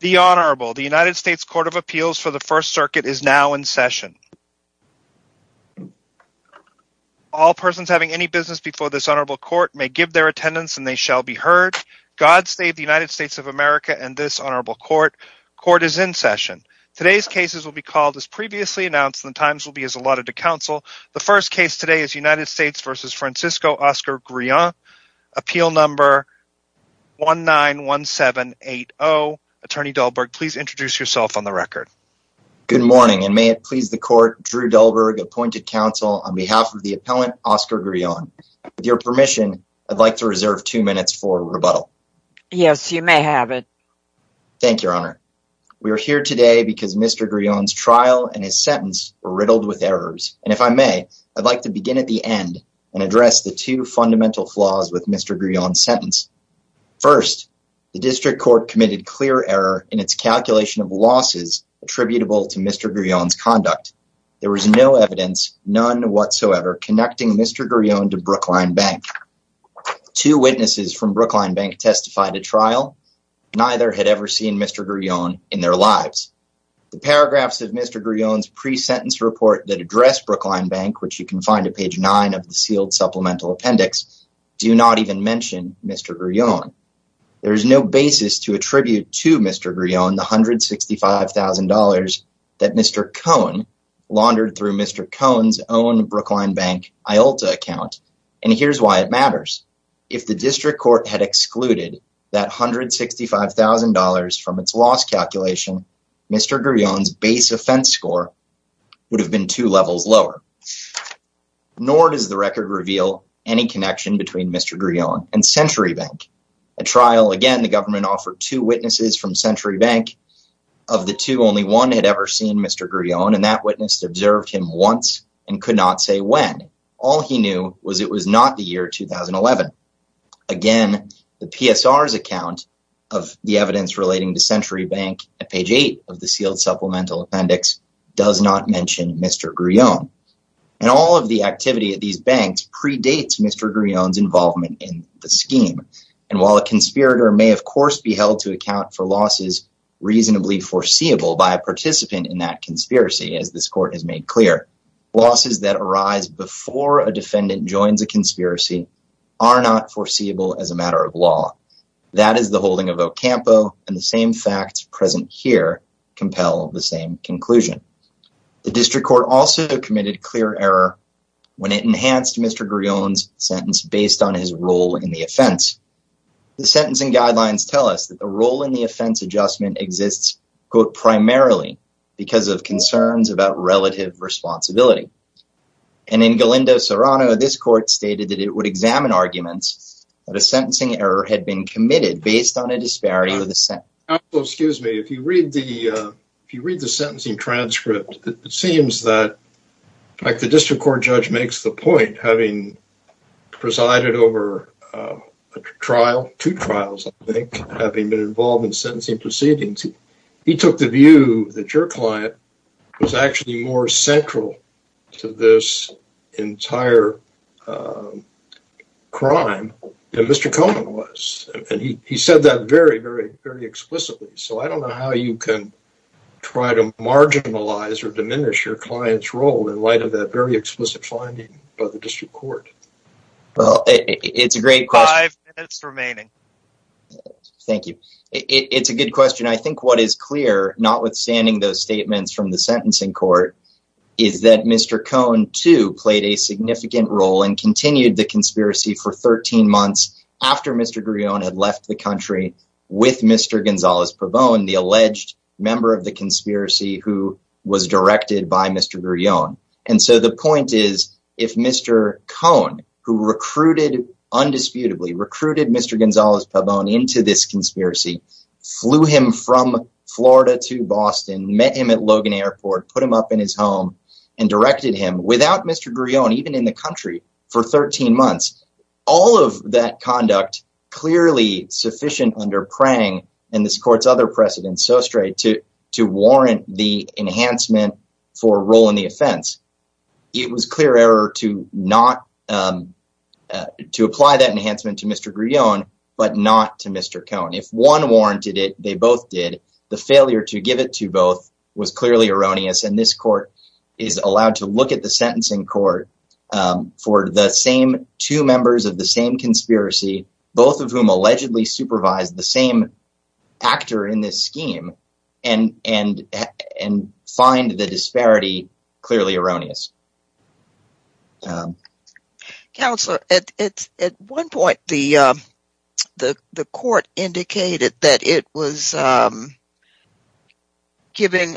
The Honorable, the United States Court of Appeals for the First Circuit is now in session. All persons having any business before this Honorable Court may give their attendance and they shall be heard. God save the United States of America and this Honorable Court. Court is in session. Today's cases will be called as previously announced and the times will be as allotted to counsel. The first case today is United States v. Francisco Oscar Grullon, appeal number 191780. Attorney Dahlberg, please introduce yourself on the record. Good morning and may it please the court, Drew Dahlberg, appointed counsel on behalf of the appellant Oscar Grullon. With your permission, I'd like to reserve two minutes for rebuttal. Yes, you may have it. Thank you, Your Honor. We are here today because Mr. Grullon's trial and his sentence were riddled with errors. And if I may, I'd like to begin at the end and address the two fundamental flaws with Mr. Grullon's sentence. First, the district court committed clear error in its calculation of losses attributable to Mr. Grullon's conduct. There was no evidence, none whatsoever, connecting Mr. Grullon to Brookline Bank. Two witnesses from Brookline Bank testified at trial. Neither had ever seen Mr. Grullon in their lives. The paragraphs of Mr. Grullon's pre-sentence report that address Brookline Bank, which you can find at page nine of the sealed supplemental appendix, do not even mention Mr. Grullon. There is no basis to attribute to Mr. Grullon the $165,000 that Mr. Cohen laundered through Mr. Cohen's own Brookline Bank IULTA account. And here's why it matters. If the district court had excluded that $165,000 from its loss calculation, Mr. Grullon's base offense score would have been two levels lower. Nor does the record reveal any connection between Mr. Grullon and Century Bank. At trial, again, the government offered two witnesses from Century Bank. Of the two, only one had ever seen Mr. Grullon, and that witness observed him once and could not say when. All he knew was it was not the year 2011. Again, the PSR's account of the evidence relating to Century Bank at page eight of the sealed supplemental appendix does not mention Mr. Grullon. And all of the activity at these banks predates Mr. Grullon's involvement in the scheme. And while a conspirator may, of course, be held to account for losses reasonably foreseeable by a participant in that conspiracy, as this court has made clear, losses that arise before a defendant joins a conspiracy are not foreseeable as a matter of law. That is the holding of Ocampo and the same facts present here compel the same conclusion. The district court also committed clear error when it enhanced Mr. Grullon's sentence based on his role in the offense. The sentencing guidelines tell us that the role in the offense adjustment exists, quote, primarily because of concerns about relative responsibility. And in Galindo Serrano, this court stated that it would examine arguments that a sentencing error had been committed based on a disparity of the sentence. Now, Ocampo, excuse me. If you read the sentencing transcript, it seems that, like the district court judge makes the point, having presided over a trial, two trials, I think, having been involved in sentencing proceedings, he took the view that your client was actually more central to this entire crime than Mr. Cohen was. And he said that very, very, very explicitly. So I don't know how you can try to marginalize or diminish your client's role in light of that very explicit finding by the district court. Well, it's a great question. Five minutes remaining. Thank you. It's a good question. I think what is clear, notwithstanding those statements from the sentencing court, is that Mr. Cohen, too, played a significant role and continued the conspiracy for 13 months after Mr. Grillon had left the country with Mr. Gonzalez-Pabon, the alleged member of the conspiracy who was directed by Mr. Grillon. And so the point is, if Mr. Cohen, who recruited, undisputably, recruited Mr. Gonzalez-Pabon into this conspiracy, flew him from Florida to Boston, met him at Logan Airport, put him up in his home, and directed him without Mr. Grillon, even in the country, for 13 months, all of that conduct clearly sufficient under Prang and this court's other precedents, so straight, to warrant the enhancement for a role in the offense, it was clear error to not, to apply that enhancement to Mr. Grillon, but not to Mr. Cohen. If one warranted it, they both did. The failure to give it to both was clearly erroneous, and this court is allowed to look at the sentencing court for the same two members of the same conspiracy, both of whom allegedly supervised the same actor in this scheme, and find the error erroneous. Counselor, at one point, the court indicated that it was giving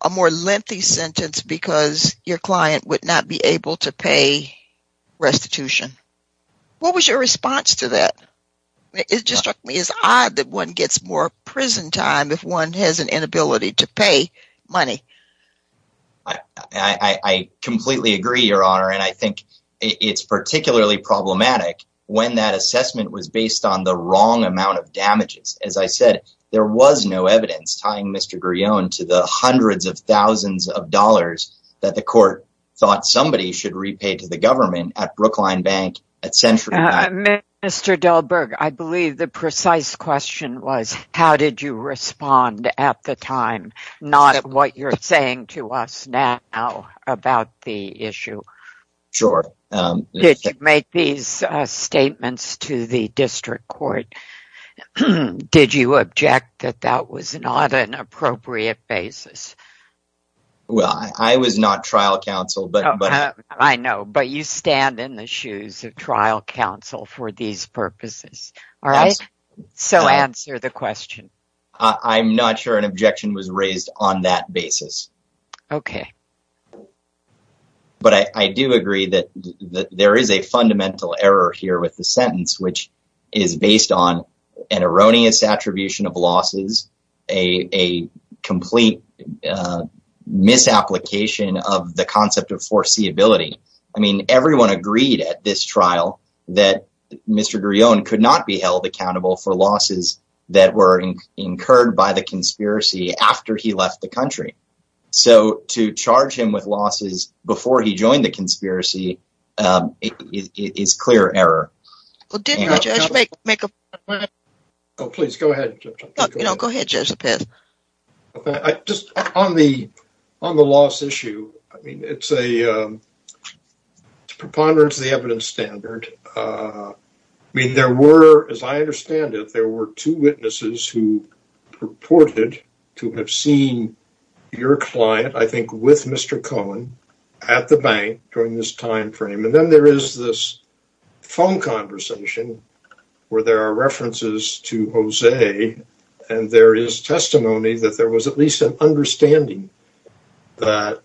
a more lengthy sentence because your client would not be able to pay restitution. What was your response to that? It just struck me as odd that one gets more prison time if one has an inability to pay money. I completely agree, Your Honor, and I think it's particularly problematic when that assessment was based on the wrong amount of damages. As I said, there was no evidence tying Mr. Grillon to the hundreds of thousands of dollars that the court thought somebody should repay to the government at Brookline Bank at Century Bank. Mr. Delberg, I believe the precise question was, how did you respond at the time, not what you're saying to us now about the issue? Sure. Did you make these statements to the district court? Did you object that that was not an appropriate basis? Well, I was not trial counsel, but... I know, but you stand in the shoes of trial counsel for these purposes, all right? So answer the question. I'm not sure an objection was raised on that basis. Okay. But I do agree that there is a fundamental error here with the sentence, which is based on an erroneous attribution of losses, a complete misapplication of the concept of foreseeability. I mean, everyone agreed at this trial that Mr. Grillon could not be held accountable for losses that were incurred by the conspiracy after he left the country. So to charge him with losses before he joined the conspiracy is clear error. Oh, please go ahead. You know, go ahead, Judge. Just on the loss issue, I mean, it's a preponderance of the evidence standard. I mean, there were, as I understand it, there were two witnesses who purported to have seen your client, I think with Mr. Cohen, at the bank during this time frame. And then there is this phone conversation where there are references to Jose, and there is testimony that there was at least an understanding that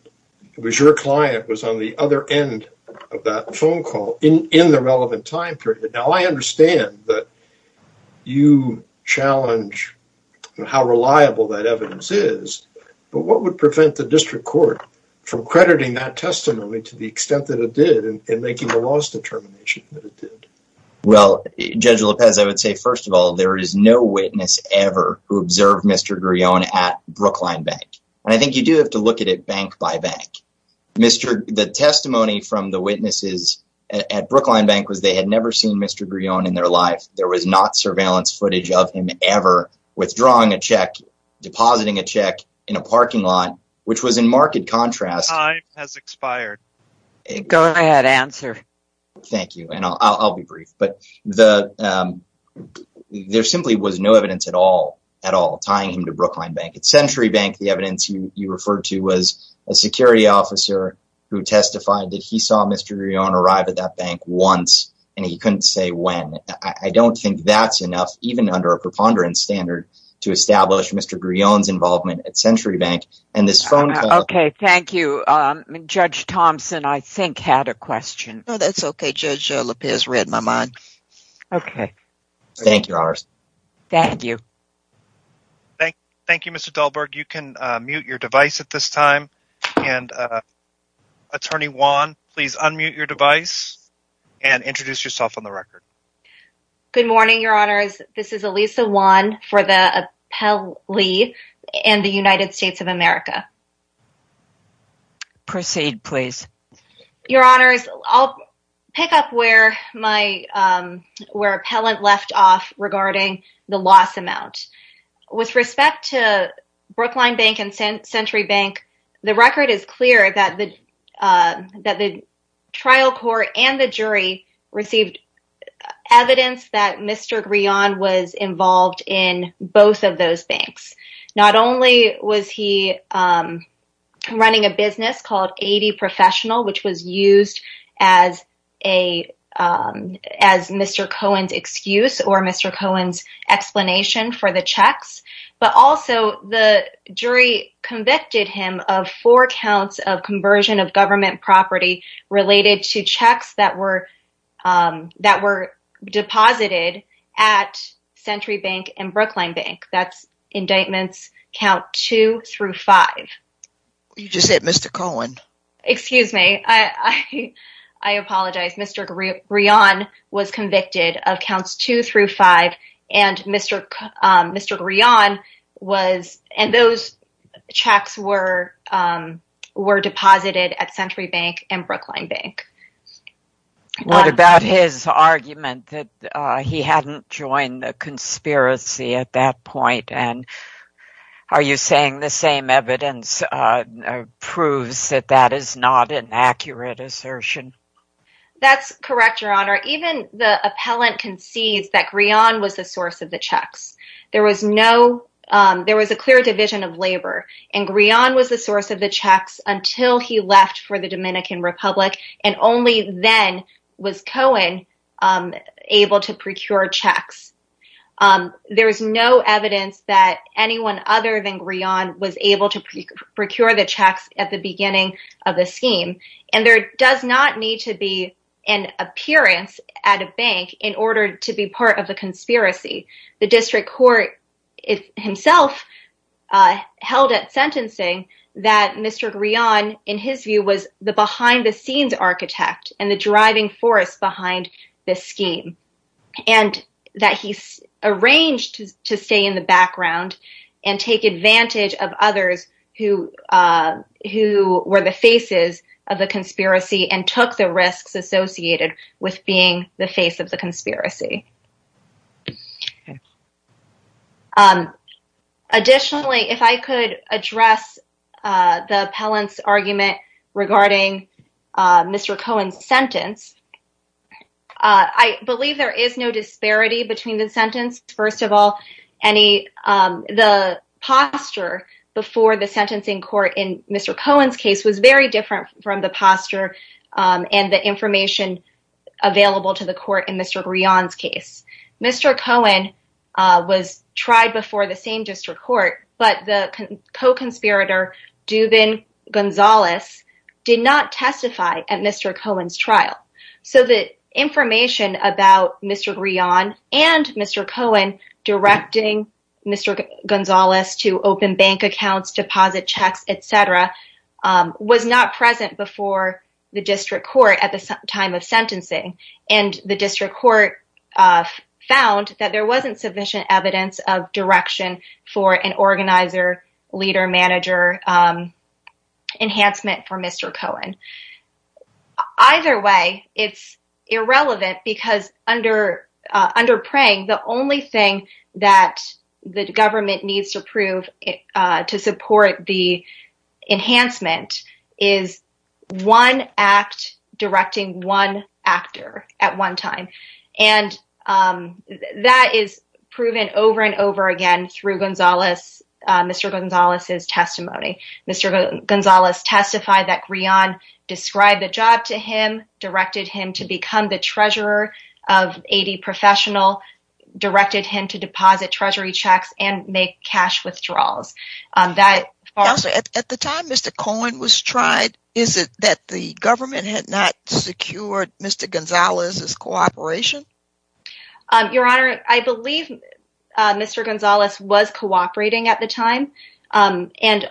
it was your client was the other end of that phone call in the relevant time period. Now, I understand that you challenge how reliable that evidence is, but what would prevent the district court from crediting that testimony to the extent that it did and making the loss determination that it did? Well, Judge Lopez, I would say, first of all, there is no witness ever who observed Mr. Grillon at Brookline Bank. And I think you do have to look at it bank by bank. The testimony from the witnesses at Brookline Bank was they had never seen Mr. Grillon in their life. There was not surveillance footage of him ever withdrawing a check, depositing a check in a parking lot, which was in marked contrast. Time has expired. Go ahead, answer. Thank you. And I'll be brief. But there simply was no evidence at all, tying him to Brookline Bank. At Century Bank, the evidence you referred to was a security officer who testified that he saw Mr. Grillon arrive at that bank once, and he couldn't say when. I don't think that's enough, even under a preponderance standard, to establish Mr. Grillon's involvement at Century Bank. And this phone call... Okay, thank you. Judge Thompson, I think, had a question. No, that's okay. Judge Lopez read my mind. Okay. Thank you, Honors. Thank you. Thank you, Mr. Delberg. You can mute your device at this time. And, Attorney Wan, please unmute your device and introduce yourself on the record. Good morning, Your Honors. This is Elisa Wan for the appellee in the United States of America. Proceed, please. Your Honors, I'll pick up where appellant left off regarding the loss amount. With respect to Brookline Bank and Century Bank, the record is clear that the trial court and the jury received evidence that Mr. Grillon was involved in both of those banks. Not only was he running a business called 80 Professional, which was used as Mr. Cohen's excuse or Mr. Cohen's explanation for the checks, but also the jury convicted him of four counts of conversion of government property related to checks that were deposited at Century Bank and Brookline Bank. That's indictments count two through five. You just said Mr. Cohen. Excuse me. I apologize. Mr. Grillon was convicted of counts two through five. And Mr. Grillon was and those checks were deposited at Century Bank and Brookline Bank. What about his argument that he hadn't joined the conspiracy at that point? And are you saying the same evidence proves that that is not an accurate assertion? That's correct, Your Honor. Even the appellant concedes that Grillon was the source of the checks. There was no, there was a clear division of labor and Grillon was the source of the checks until he left for the Dominican Republic. And only then was Cohen able to procure checks. There is no evidence that anyone other than Grillon was able to procure the checks at the beginning of the scheme. And there does not need to be an appearance at a bank in order to be part of the conspiracy. The district court himself held at sentencing that Mr. Grillon, in his view, was the behind the scenes architect and the driving force behind this scheme. And that he arranged to stay in the background and take advantage of others who were the faces of the conspiracy and took the risks associated with being the face of the conspiracy. Okay. Additionally, if I could address the appellant's argument regarding Mr. Cohen's sentence, I believe there is no disparity between the sentence. First of all, any, the posture before the sentencing court in Mr. Cohen's case was very different from the posture and the Mr. Cohen was tried before the same district court, but the co-conspirator Duvin Gonzalez did not testify at Mr. Cohen's trial. So the information about Mr. Grillon and Mr. Cohen directing Mr. Gonzalez to open bank accounts, deposit checks, etc. was not present before the district court at the time of sentencing. And the district court found that there wasn't sufficient evidence of direction for an organizer, leader, manager enhancement for Mr. Cohen. Either way, it's irrelevant because under Prang, the only thing that the government needs to prove to support the enhancement is one act directing one actor at one time. And that is proven over and over again through Mr. Gonzalez's testimony. Mr. Gonzalez testified that Grillon described the job to him, directed him to become the treasurer of 80 professional, directed him to deposit treasury checks and make cash withdrawals. Also, at the time Mr. Cohen was tried, is it that the government had not secured Mr. Gonzalez's cooperation? Your Honor, I believe Mr. Gonzalez was cooperating at the time. And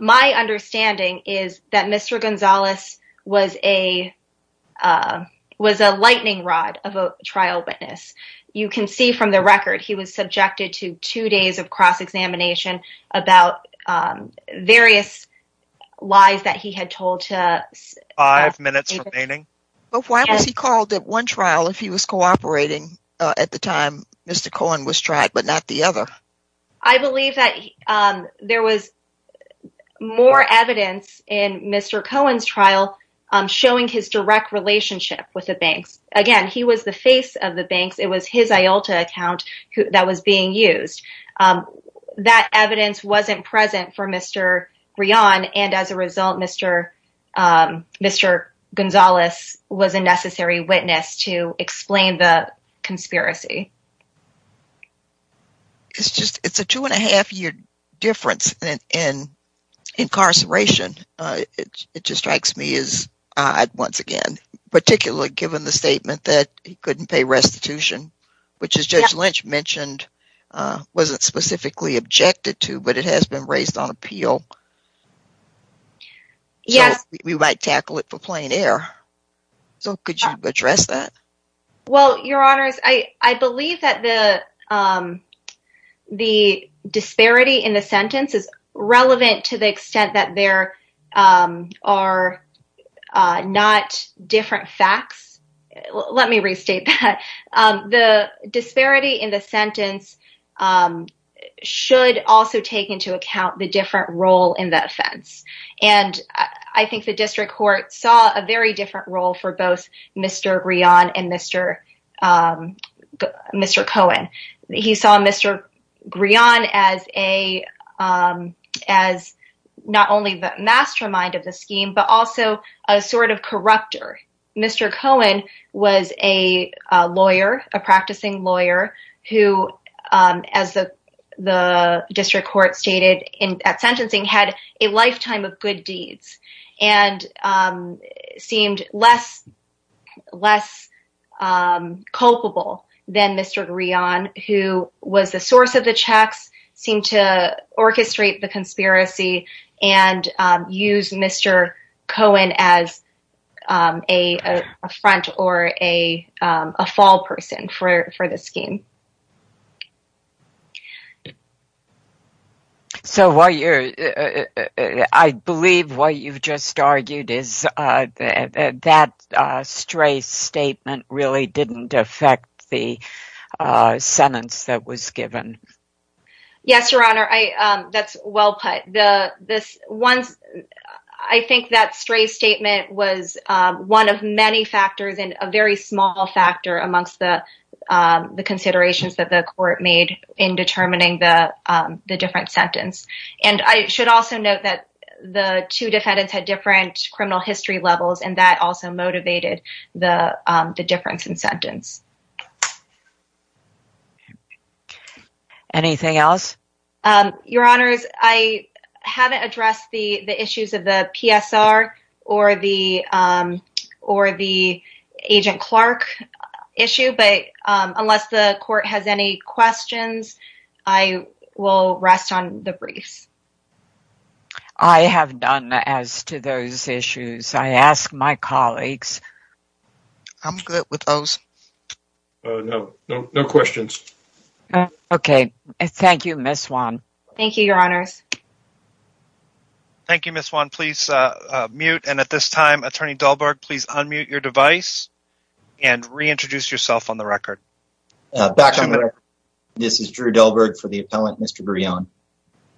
my understanding is that Mr. Gonzalez was subjected to two days of cross-examination about various lies that he had told. Five minutes remaining. But why was he called at one trial if he was cooperating at the time Mr. Cohen was tried, but not the other? I believe that there was more evidence in Mr. Cohen's trial showing his direct relationship with the banks. Again, he was the face of the banks. It was his IULTA account that was being used. That evidence wasn't present for Mr. Grillon. And as a result, Mr. Gonzalez was a necessary witness to explain the conspiracy. It's just, it's a two and a half year difference in incarceration. It just strikes me as once again, particularly given the statement that he couldn't pay restitution, which as Judge Lynch mentioned, wasn't specifically objected to, but it has been raised on appeal. We might tackle it for plain air. So could you address that? Well, Your Honors, I believe that the disparity in the sentence is relevant to the extent that there are not different facts. Let me restate that. The disparity in the sentence should also take into account the different role in that offense. And I think the district court saw a very different role for both Mr. Grillon and Mr. Cohen. He saw Mr. Grillon as not only the mastermind of the scheme, but also a sort of corrupter. Mr. Cohen was a lawyer, a practicing lawyer who, as the district court stated at sentencing, had a lifetime of good deeds and seemed less culpable than Mr. Grillon, who was the source of the checks, seemed to use Mr. Cohen as a front or a fall person for the scheme. So I believe what you've just argued is that stray statement really didn't affect the I think that stray statement was one of many factors and a very small factor amongst the considerations that the court made in determining the different sentence. And I should also note that the two defendants had different criminal history levels, and that also motivated the difference in sentence. Anything else? Your Honors, I haven't addressed the issues of the PSR or the Agent Clark issue, but unless the court has any questions, I will rest on the briefs. I have done as to those issues. I ask my colleagues. I'm good with those. No questions. Okay. Thank you, Ms. Swan. Thank you, Your Honors. Thank you, Ms. Swan. Please mute, and at this time, Attorney Dahlberg, please unmute your device and reintroduce yourself on the record. Back on the record. This is Drew Dahlberg for the appellant, Mr. Grillon.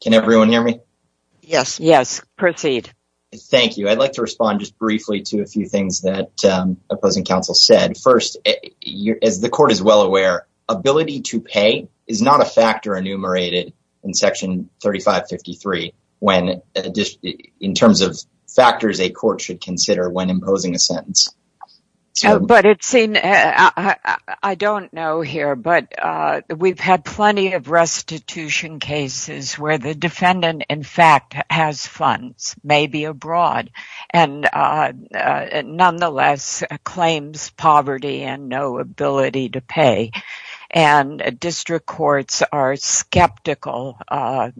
Can everyone hear me? Yes. Yes. Proceed. Thank you. I'd like to respond just briefly to a few things that opposing counsel said. First, as the court is well aware, ability to pay is not a factor enumerated in Section 3553 in terms of factors a court should consider when imposing a sentence. But I don't know here, but we've had plenty of restitution cases where the defendant, in fact, has funds, maybe abroad, and nonetheless claims poverty and no ability to pay. District courts are skeptical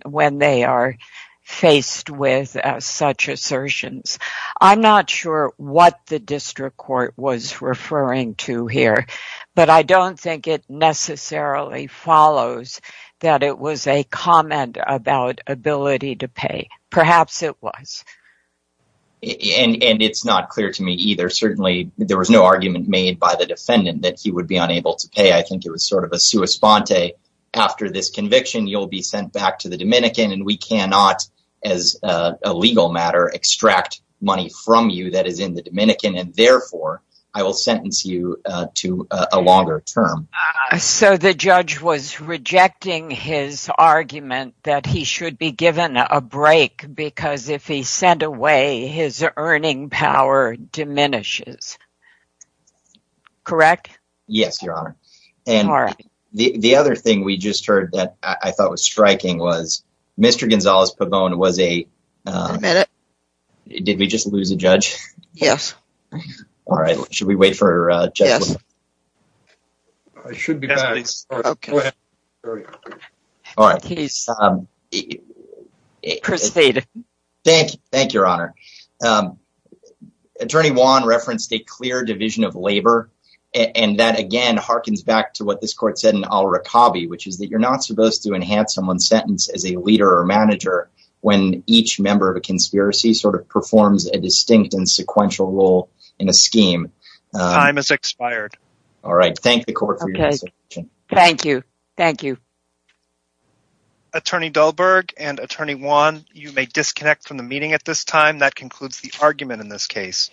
when they are faced with such assertions. I'm not sure what the district court was referring to here, but I don't think it necessarily follows that it was a comment about ability to pay. Perhaps it was. And it's not clear to me either. Certainly, there was no argument made by the defendant that he would be unable to pay. I think it was sort of a sua sponte. After this conviction, you'll be sent back to the Dominican, and we cannot, as a legal matter, extract money from you that is in the Dominican, and therefore, I will sentence you to a longer term. So, the judge was rejecting his argument that he should be given a break because if he's sent away, his earning power diminishes. Correct? Yes, Your Honor. And the other thing we just heard that I thought was striking was Mr. Gonzales-Pabon was a... Did we just lose a judge? Yes. All right. Should we wait for a judge? Yes. All right. Please proceed. Thank you, Your Honor. Attorney Wan referenced a clear division of labor, and that, again, harkens back to what this court said in Al-Rakabi, which is that you're not supposed to enhance someone's sentence as a leader or manager when each member of a conspiracy sort performs a distinct and sequential role in a scheme. Time has expired. All right. Thank the court for your resolution. Thank you. Thank you. Attorney Dahlberg and Attorney Wan, you may disconnect from the meeting at this time. That concludes the argument in this case.